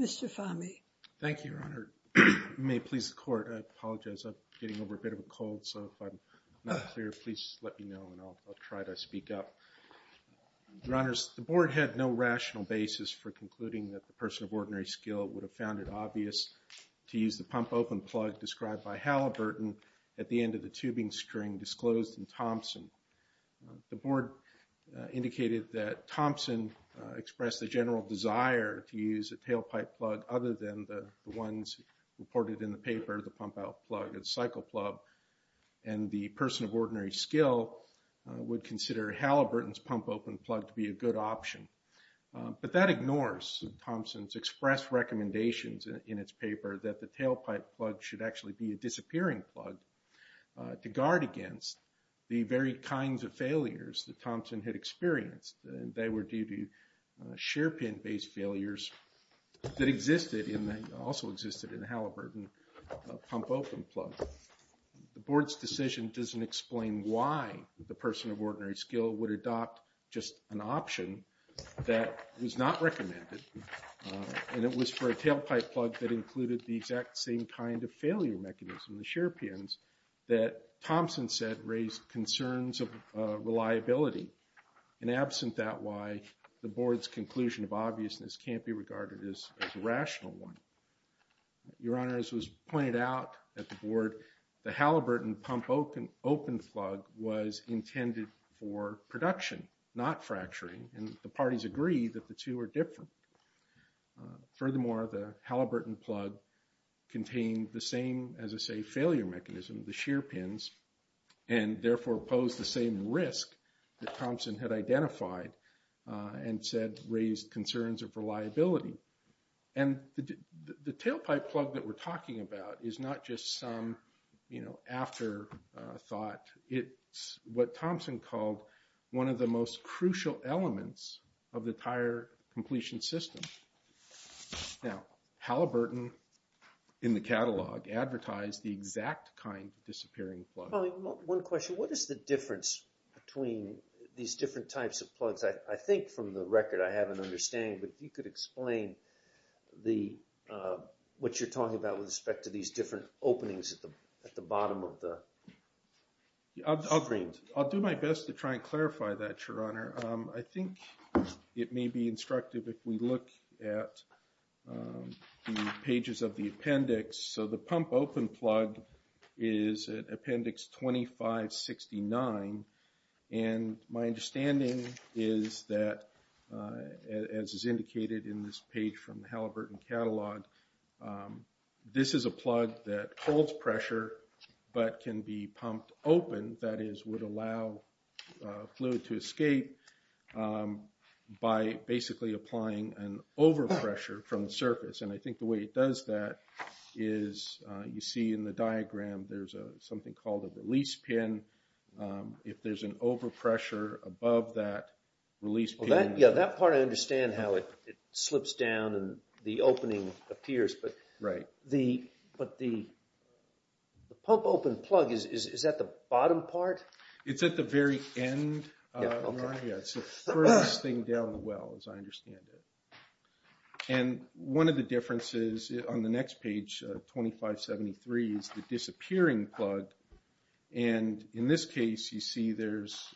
Mr. Fahmy. Thank you, Your Honor. May it please the court, I apologize, I'm getting over a bit of a cold, so if I'm not clear, please let me know and I'll try to speak up. Your Honors, the board had no rational basis for concluding that the person of ordinary skill would have found it obvious to use the pump open plug described by Halliburton at the end of the tubing string disclosed in Thompson. The board indicated that Thompson expressed a general desire to use a tailpipe plug other than the ones reported in the paper, the pump out plug, the cycle plug, and the person of ordinary skill would consider Halliburton's pump open plug to be a good option. But that ignores Thompson's expressed recommendations in its paper that the tailpipe plug should actually be a disappearing plug to guard against the very kinds of failures that Thompson had experienced. They were due to share pin based failures that existed in the, also existed in the Halliburton pump open plug. The board's decision doesn't explain why the person of ordinary skill would adopt just an option that was not recommended. And it was for a tailpipe plug that included the exact same kind of failure mechanism, the share pins, that Thompson said raised concerns of reliability. And absent that, why the board's conclusion of obviousness can't be regarded as a rational one. Your Honor, as was pointed out at the board, the Halliburton pump open plug was intended for production, not fracturing, and the parties agree that the two are different. Furthermore, the Halliburton plug contained the same, as I say, failure mechanism, the share pins, and therefore posed the same risk that Thompson had identified and said raised concerns of reliability. And the tailpipe plug that we're talking about is not just some, you know, afterthought. It's what Thompson called one of the most crucial elements of the tire completion system. Now, Halliburton, in the catalog, advertised the exact kind of disappearing plug. One question, what is the difference between these different types of plugs? I think from the record I have an understanding, but if you could explain what you're talking about with respect to these different openings at the bottom of the screen. It's 2569, and my understanding is that, as is indicated in this page from the Halliburton catalog, this is a plug that holds pressure but can be pumped open, that is, would allow fluid to escape by basically applying an overpressure from the surface. And I think the way it does that is, you see in the diagram, there's something called a release pin. If there's an overpressure above that release pin. Yeah, that part I understand how it slips down and the opening appears, but the pump open plug, is that the bottom part? It's at the very end. It's the furthest thing down the well, as I understand it. And one of the differences on the next page, 2573, is the disappearing plug. And in this case, you see there's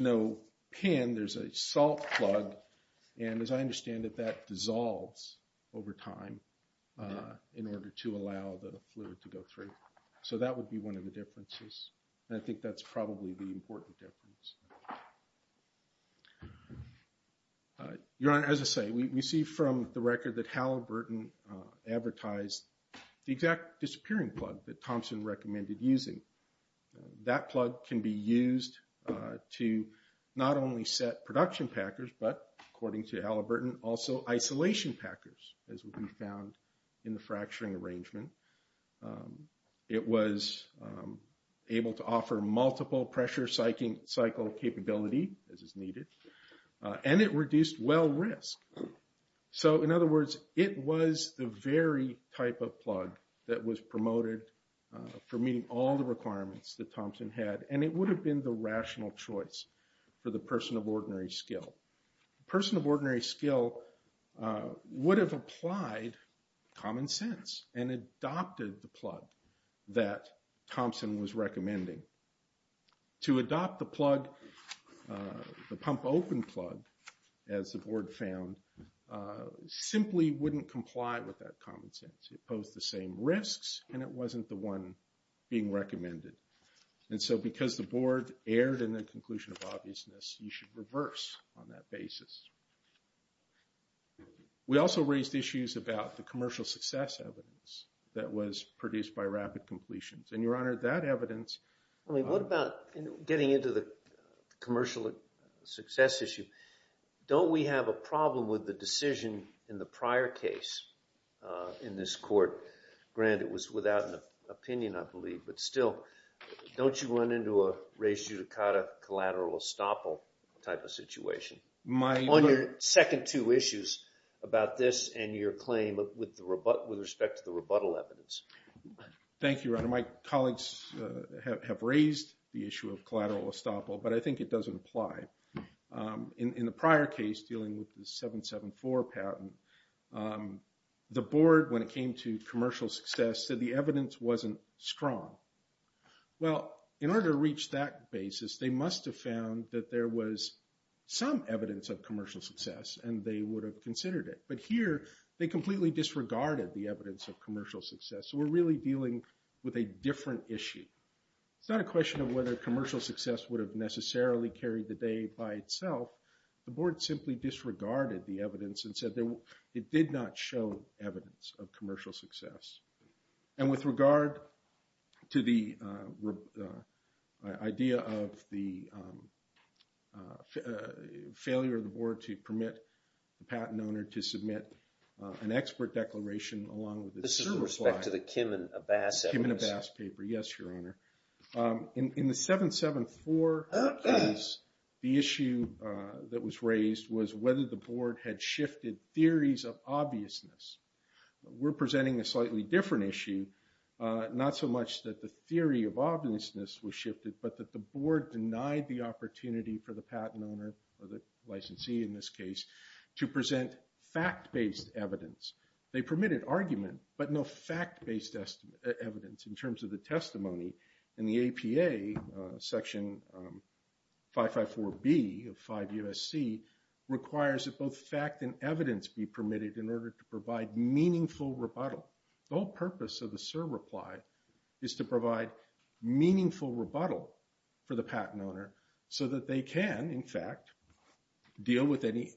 no pin, there's a salt plug. And as I understand it, that dissolves over time in order to allow the fluid to go through. So that would be one of the differences. And I think that's probably the important difference. Your Honor, as I say, we see from the record that Halliburton advertised the exact disappearing plug that Thompson recommended using. That plug can be used to not only set production packers, but according to Halliburton, also isolation packers, as we found in the fracturing arrangement. It was able to offer multiple pressure cycle capability, as is needed. And it reduced well risk. So in other words, it was the very type of plug that was promoted for meeting all the requirements that Thompson had. And it would have been the rational choice for the person of ordinary skill. The person of ordinary skill would have applied common sense and adopted the plug that Thompson was recommending. To adopt the plug, the pump open plug, as the board found, simply wouldn't comply with that common sense. It posed the same risks and it wasn't the one being recommended. And so because the board erred in the conclusion of obviousness, you should reverse on that basis. We also raised issues about the commercial success evidence that was produced by rapid completions. And Your Honor, that evidence… What about getting into the commercial success issue? Don't we have a problem with the decision in the prior case in this court? Grant, it was without an opinion, I believe. But still, don't you run into a res judicata collateral estoppel type of situation? My… On your second two issues about this and your claim with respect to the rebuttal evidence. Thank you, Your Honor. My colleagues have raised the issue of collateral estoppel, but I think it doesn't apply. In the prior case dealing with the 774 patent, the board, when it came to commercial success, said the evidence wasn't strong. Well, in order to reach that basis, they must have found that there was some evidence of commercial success and they would have considered it. But here, they completely disregarded the evidence of commercial success. So we're really dealing with a different issue. It's not a question of whether commercial success would have necessarily carried the day by itself. The board simply disregarded the evidence and said that it did not show evidence of commercial success. And with regard to the idea of the failure of the board to permit the patent owner to submit an expert declaration along with the… With respect to the Kim and Abbas evidence. In the 774 case, the issue that was raised was whether the board had shifted theories of obviousness. We're presenting a slightly different issue, not so much that the theory of obviousness was shifted, but that the board denied the opportunity for the patent owner, or the licensee in this case, to present fact-based evidence. They permitted argument, but no fact-based evidence in terms of the testimony. And the APA, Section 554B of 5 U.S.C., requires that both fact and evidence be permitted in order to provide meaningful rebuttal. The whole purpose of the SIR reply is to provide meaningful rebuttal for the patent owner so that they can, in fact, deal with any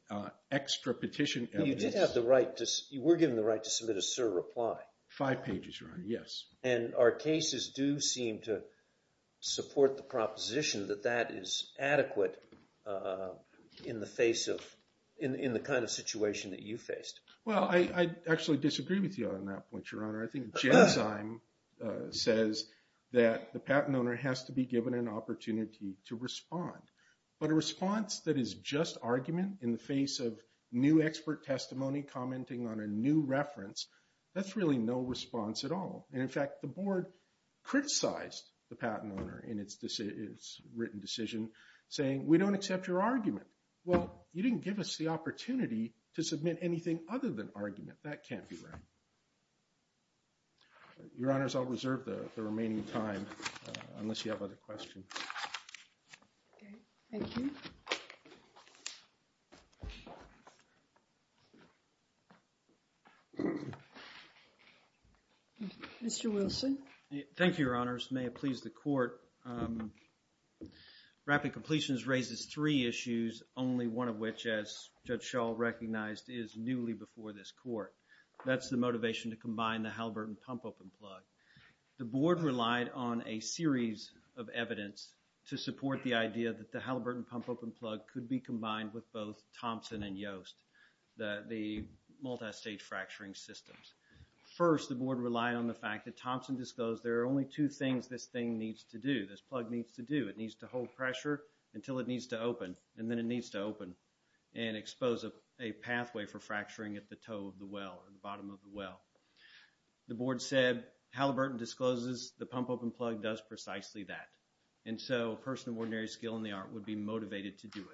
extra petition evidence. You did have the right to, you were given the right to submit a SIR reply. Five pages, Your Honor, yes. And our cases do seem to support the proposition that that is adequate in the face of, in the kind of situation that you faced. Well, I actually disagree with you on that point, Your Honor. I think Jensheim says that the patent owner has to be given an opportunity to respond. But a response that is just argument in the face of new expert testimony commenting on a new reference, that's really no response at all. And, in fact, the Board criticized the patent owner in its written decision, saying, we don't accept your argument. Well, you didn't give us the opportunity to submit anything other than argument. That can't be right. Your Honors, I'll reserve the remaining time, unless you have other questions. Thank you. Mr. Wilson. Thank you, Your Honors. May it please the Court. Rapid Completions raises three issues, only one of which, as Judge Schall recognized, is newly before this Court. That's the motivation to combine the Halliburton pump-open plug. The Board relied on a series of evidence to support the idea that the Halliburton pump-open plug could be combined with both Thompson and Yost, the multistage fracturing systems. First, the Board relied on the fact that Thompson disclosed there are only two things this thing needs to do, this plug needs to do. It needs to hold pressure until it needs to open, and then it needs to open and expose a pathway for fracturing at the toe of the well, at the bottom of the well. The Board said, Halliburton discloses the pump-open plug does precisely that. And so a person of ordinary skill in the art would be motivated to do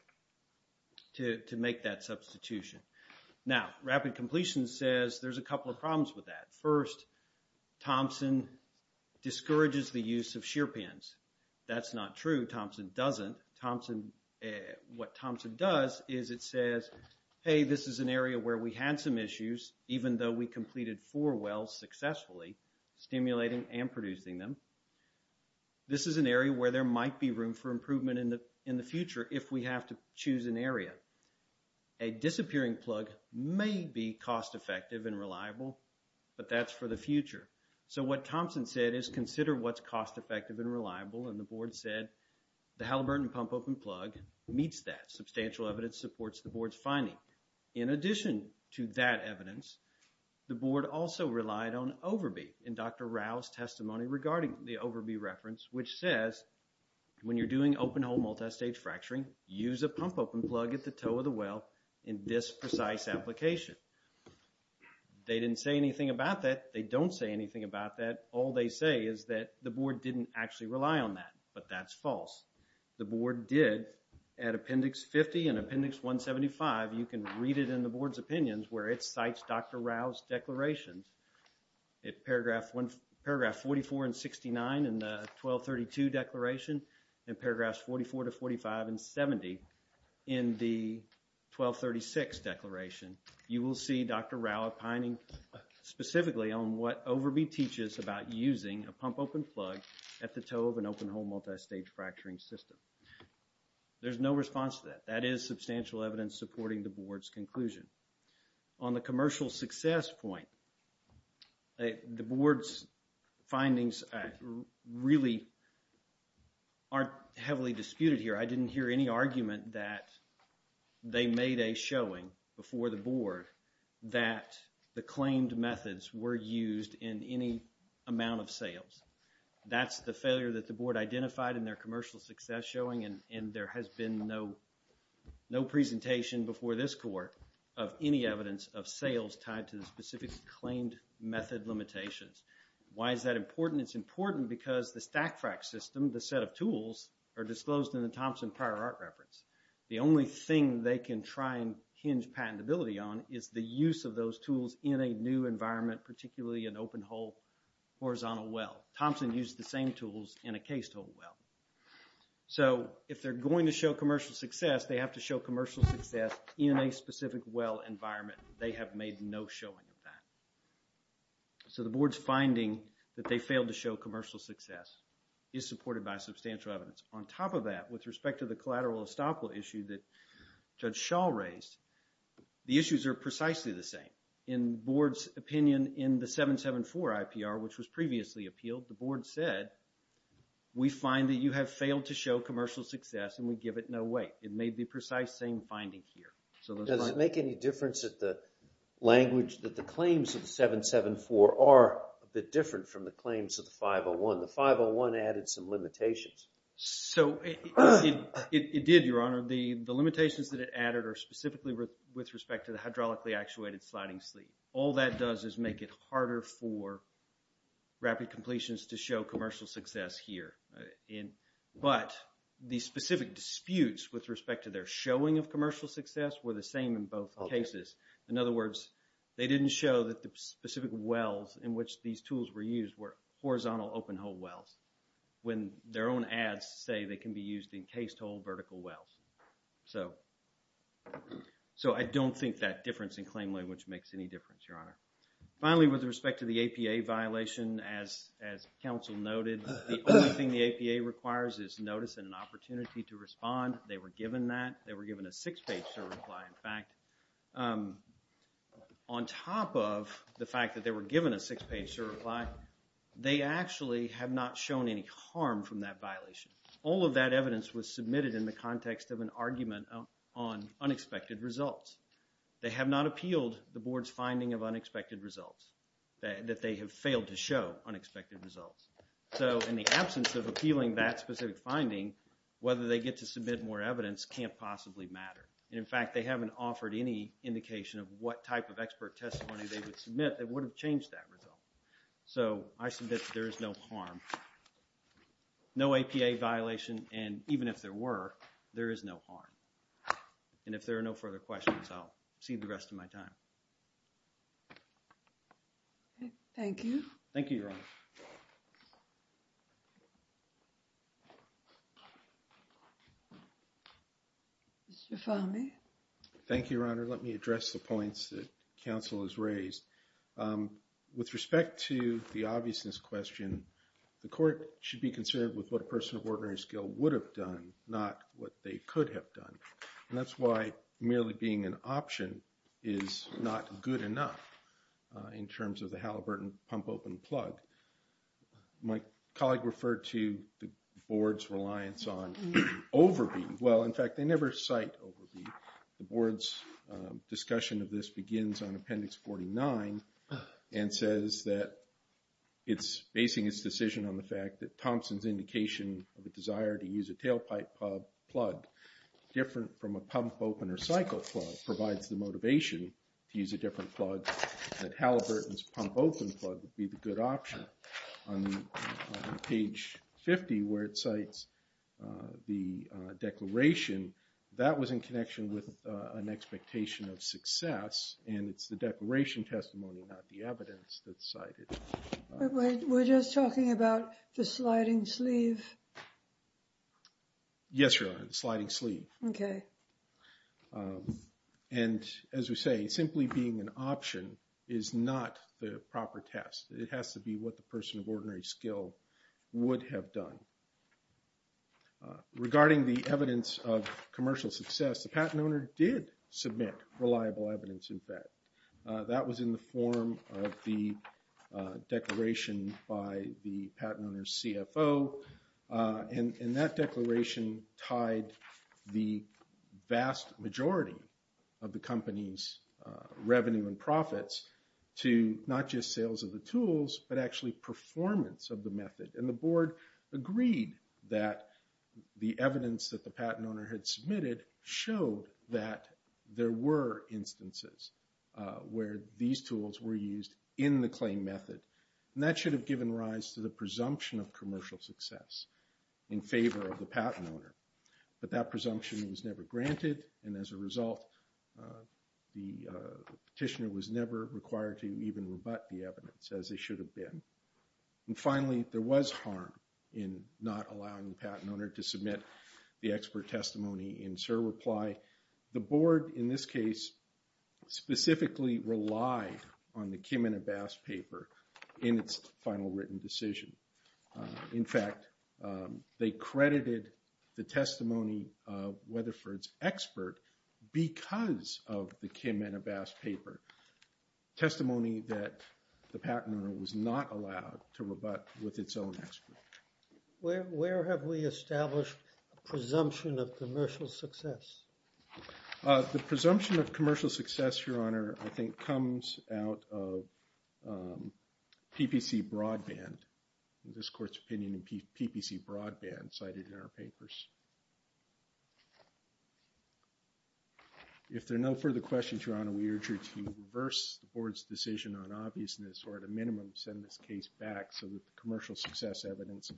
it, to make that substitution. Now, Rapid Completions says there's a couple of problems with that. First, Thompson discourages the use of shear pins. That's not true, Thompson doesn't. Thompson, what Thompson does is it says, hey, this is an area where we had some issues, even though we completed four wells successfully, stimulating and producing them. This is an area where there might be room for improvement in the future if we have to choose an area. A disappearing plug may be cost effective and reliable, but that's for the future. So what Thompson said is consider what's cost effective and reliable, and the Board said the Halliburton pump-open plug meets that. Substantial evidence supports the Board's finding. In addition to that evidence, the Board also relied on Overby in Dr. Rao's testimony regarding the Overby reference, which says when you're doing open-hole multistage fracturing, use a pump-open plug at the toe of the well in this precise application. They didn't say anything about that. They don't say anything about that. All they say is that the Board didn't actually rely on that, but that's false. The Board did at Appendix 50 and Appendix 175. You can read it in the Board's opinions where it cites Dr. Rao's declarations. In paragraphs 44 and 69 in the 1232 declaration and paragraphs 44 to 45 and 70 in the 1236 declaration, you will see Dr. Rao opining specifically on what Overby teaches about using a pump-open plug at the toe of an open-hole multistage fracturing system. There's no response to that. That is substantial evidence supporting the Board's conclusion. On the commercial success point, the Board's findings really aren't heavily disputed here. I didn't hear any argument that they made a showing before the Board that the claimed methods were used in any amount of sales. That's the failure that the Board identified in their commercial success showing, and there has been no presentation before this Court of any evidence of sales tied to the specific claimed method limitations. Why is that important? It's important because the stack frac system, the set of tools, are disclosed in the Thompson Prior Art Reference. The only thing they can try and hinge patentability on is the use of those tools in a new environment, particularly an open-hole horizontal well. Thompson used the same tools in a case-told well. So if they're going to show commercial success, they have to show commercial success in a specific well environment. They have made no showing of that. So the Board's finding that they failed to show commercial success is supported by substantial evidence. On top of that, with respect to the collateral estoppel issue that Judge Schall raised, the issues are precisely the same. In the Board's opinion in the 774 IPR, which was previously appealed, the Board said, we find that you have failed to show commercial success and we give it no weight. It made the precise same finding here. Does it make any difference that the language, that the claims of the 774 are a bit different from the claims of the 501? The 501 added some limitations. So it did, Your Honor. The limitations that it added are specifically with respect to the hydraulically actuated sliding sleeve. All that does is make it harder for rapid completions to show commercial success here. But the specific disputes with respect to their showing of commercial success were the same in both cases. In other words, they didn't show that the specific wells in which these tools were used were horizontal open-hole wells. When their own ads say they can be used in case-told vertical wells. So I don't think that difference in claim language makes any difference, Your Honor. Finally, with respect to the APA violation, as counsel noted, the only thing the APA requires is notice and an opportunity to respond. They were given that. They were given a six-page certify, in fact. On top of the fact that they were given a six-page certify, they actually have not shown any harm from that violation. All of that evidence was submitted in the context of an argument on unexpected results. They have not appealed the board's finding of unexpected results. That they have failed to show unexpected results. So in the absence of appealing that specific finding, whether they get to submit more evidence can't possibly matter. And in fact, they haven't offered any indication of what type of expert testimony they would submit that would have changed that result. So I submit that there is no harm. No APA violation, and even if there were, there is no harm. And if there are no further questions, I'll cede the rest of my time. Thank you. Thank you, Your Honor. Mr. Fahmy. Thank you, Your Honor. Let me address the points that counsel has raised. With respect to the obviousness question, the court should be concerned with what a person of ordinary skill would have done, not what they could have done. And that's why merely being an option is not good enough in terms of the Halliburton pump-open plug. My colleague referred to the board's reliance on overbeating. Well, in fact, they never cite overbeating. The board's discussion of this begins on Appendix 49 and says that it's basing its decision on the fact that Thompson's indication of a desire to use a tailpipe plug different from a pump-open or cycle plug provides the motivation to use a different plug, that Halliburton's pump-open plug would be the good option. On page 50, where it cites the declaration, that was in connection with an expectation of success, and it's the declaration testimony, not the evidence that's cited. We're just talking about the sliding sleeve? Yes, Your Honor, the sliding sleeve. Okay. And as we say, simply being an option is not the proper test. It has to be what the person of ordinary skill would have done. Regarding the evidence of commercial success, the patent owner did submit reliable evidence, in fact. That was in the form of the declaration by the patent owner's CFO, and that declaration tied the vast majority of the company's revenue and profits to not just sales of the tools, but actually performance of the method. And the board agreed that the evidence that the patent owner had submitted showed that there were instances where these tools were used in the claim method. And that should have given rise to the presumption of commercial success in favor of the patent owner. But that presumption was never granted, and as a result, the petitioner was never required to even rebut the evidence, as they should have been. And finally, there was harm in not allowing the patent owner to submit the expert testimony. The board, in this case, specifically relied on the Kim and Abass paper in its final written decision. In fact, they credited the testimony of Weatherford's expert because of the Kim and Abass paper, testimony that the patent owner was not allowed to rebut with its own expert. Where have we established a presumption of commercial success? The presumption of commercial success, Your Honor, I think comes out of PPC broadband, this court's opinion in PPC broadband cited in our papers. If there are no further questions, Your Honor, we urge you to reverse the board's decision on obviousness, or at a minimum, send this case back so that the commercial success evidence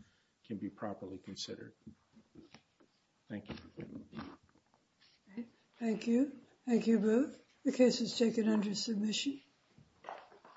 can be properly considered. Thank you. Thank you. Thank you both. The case is taken under submission.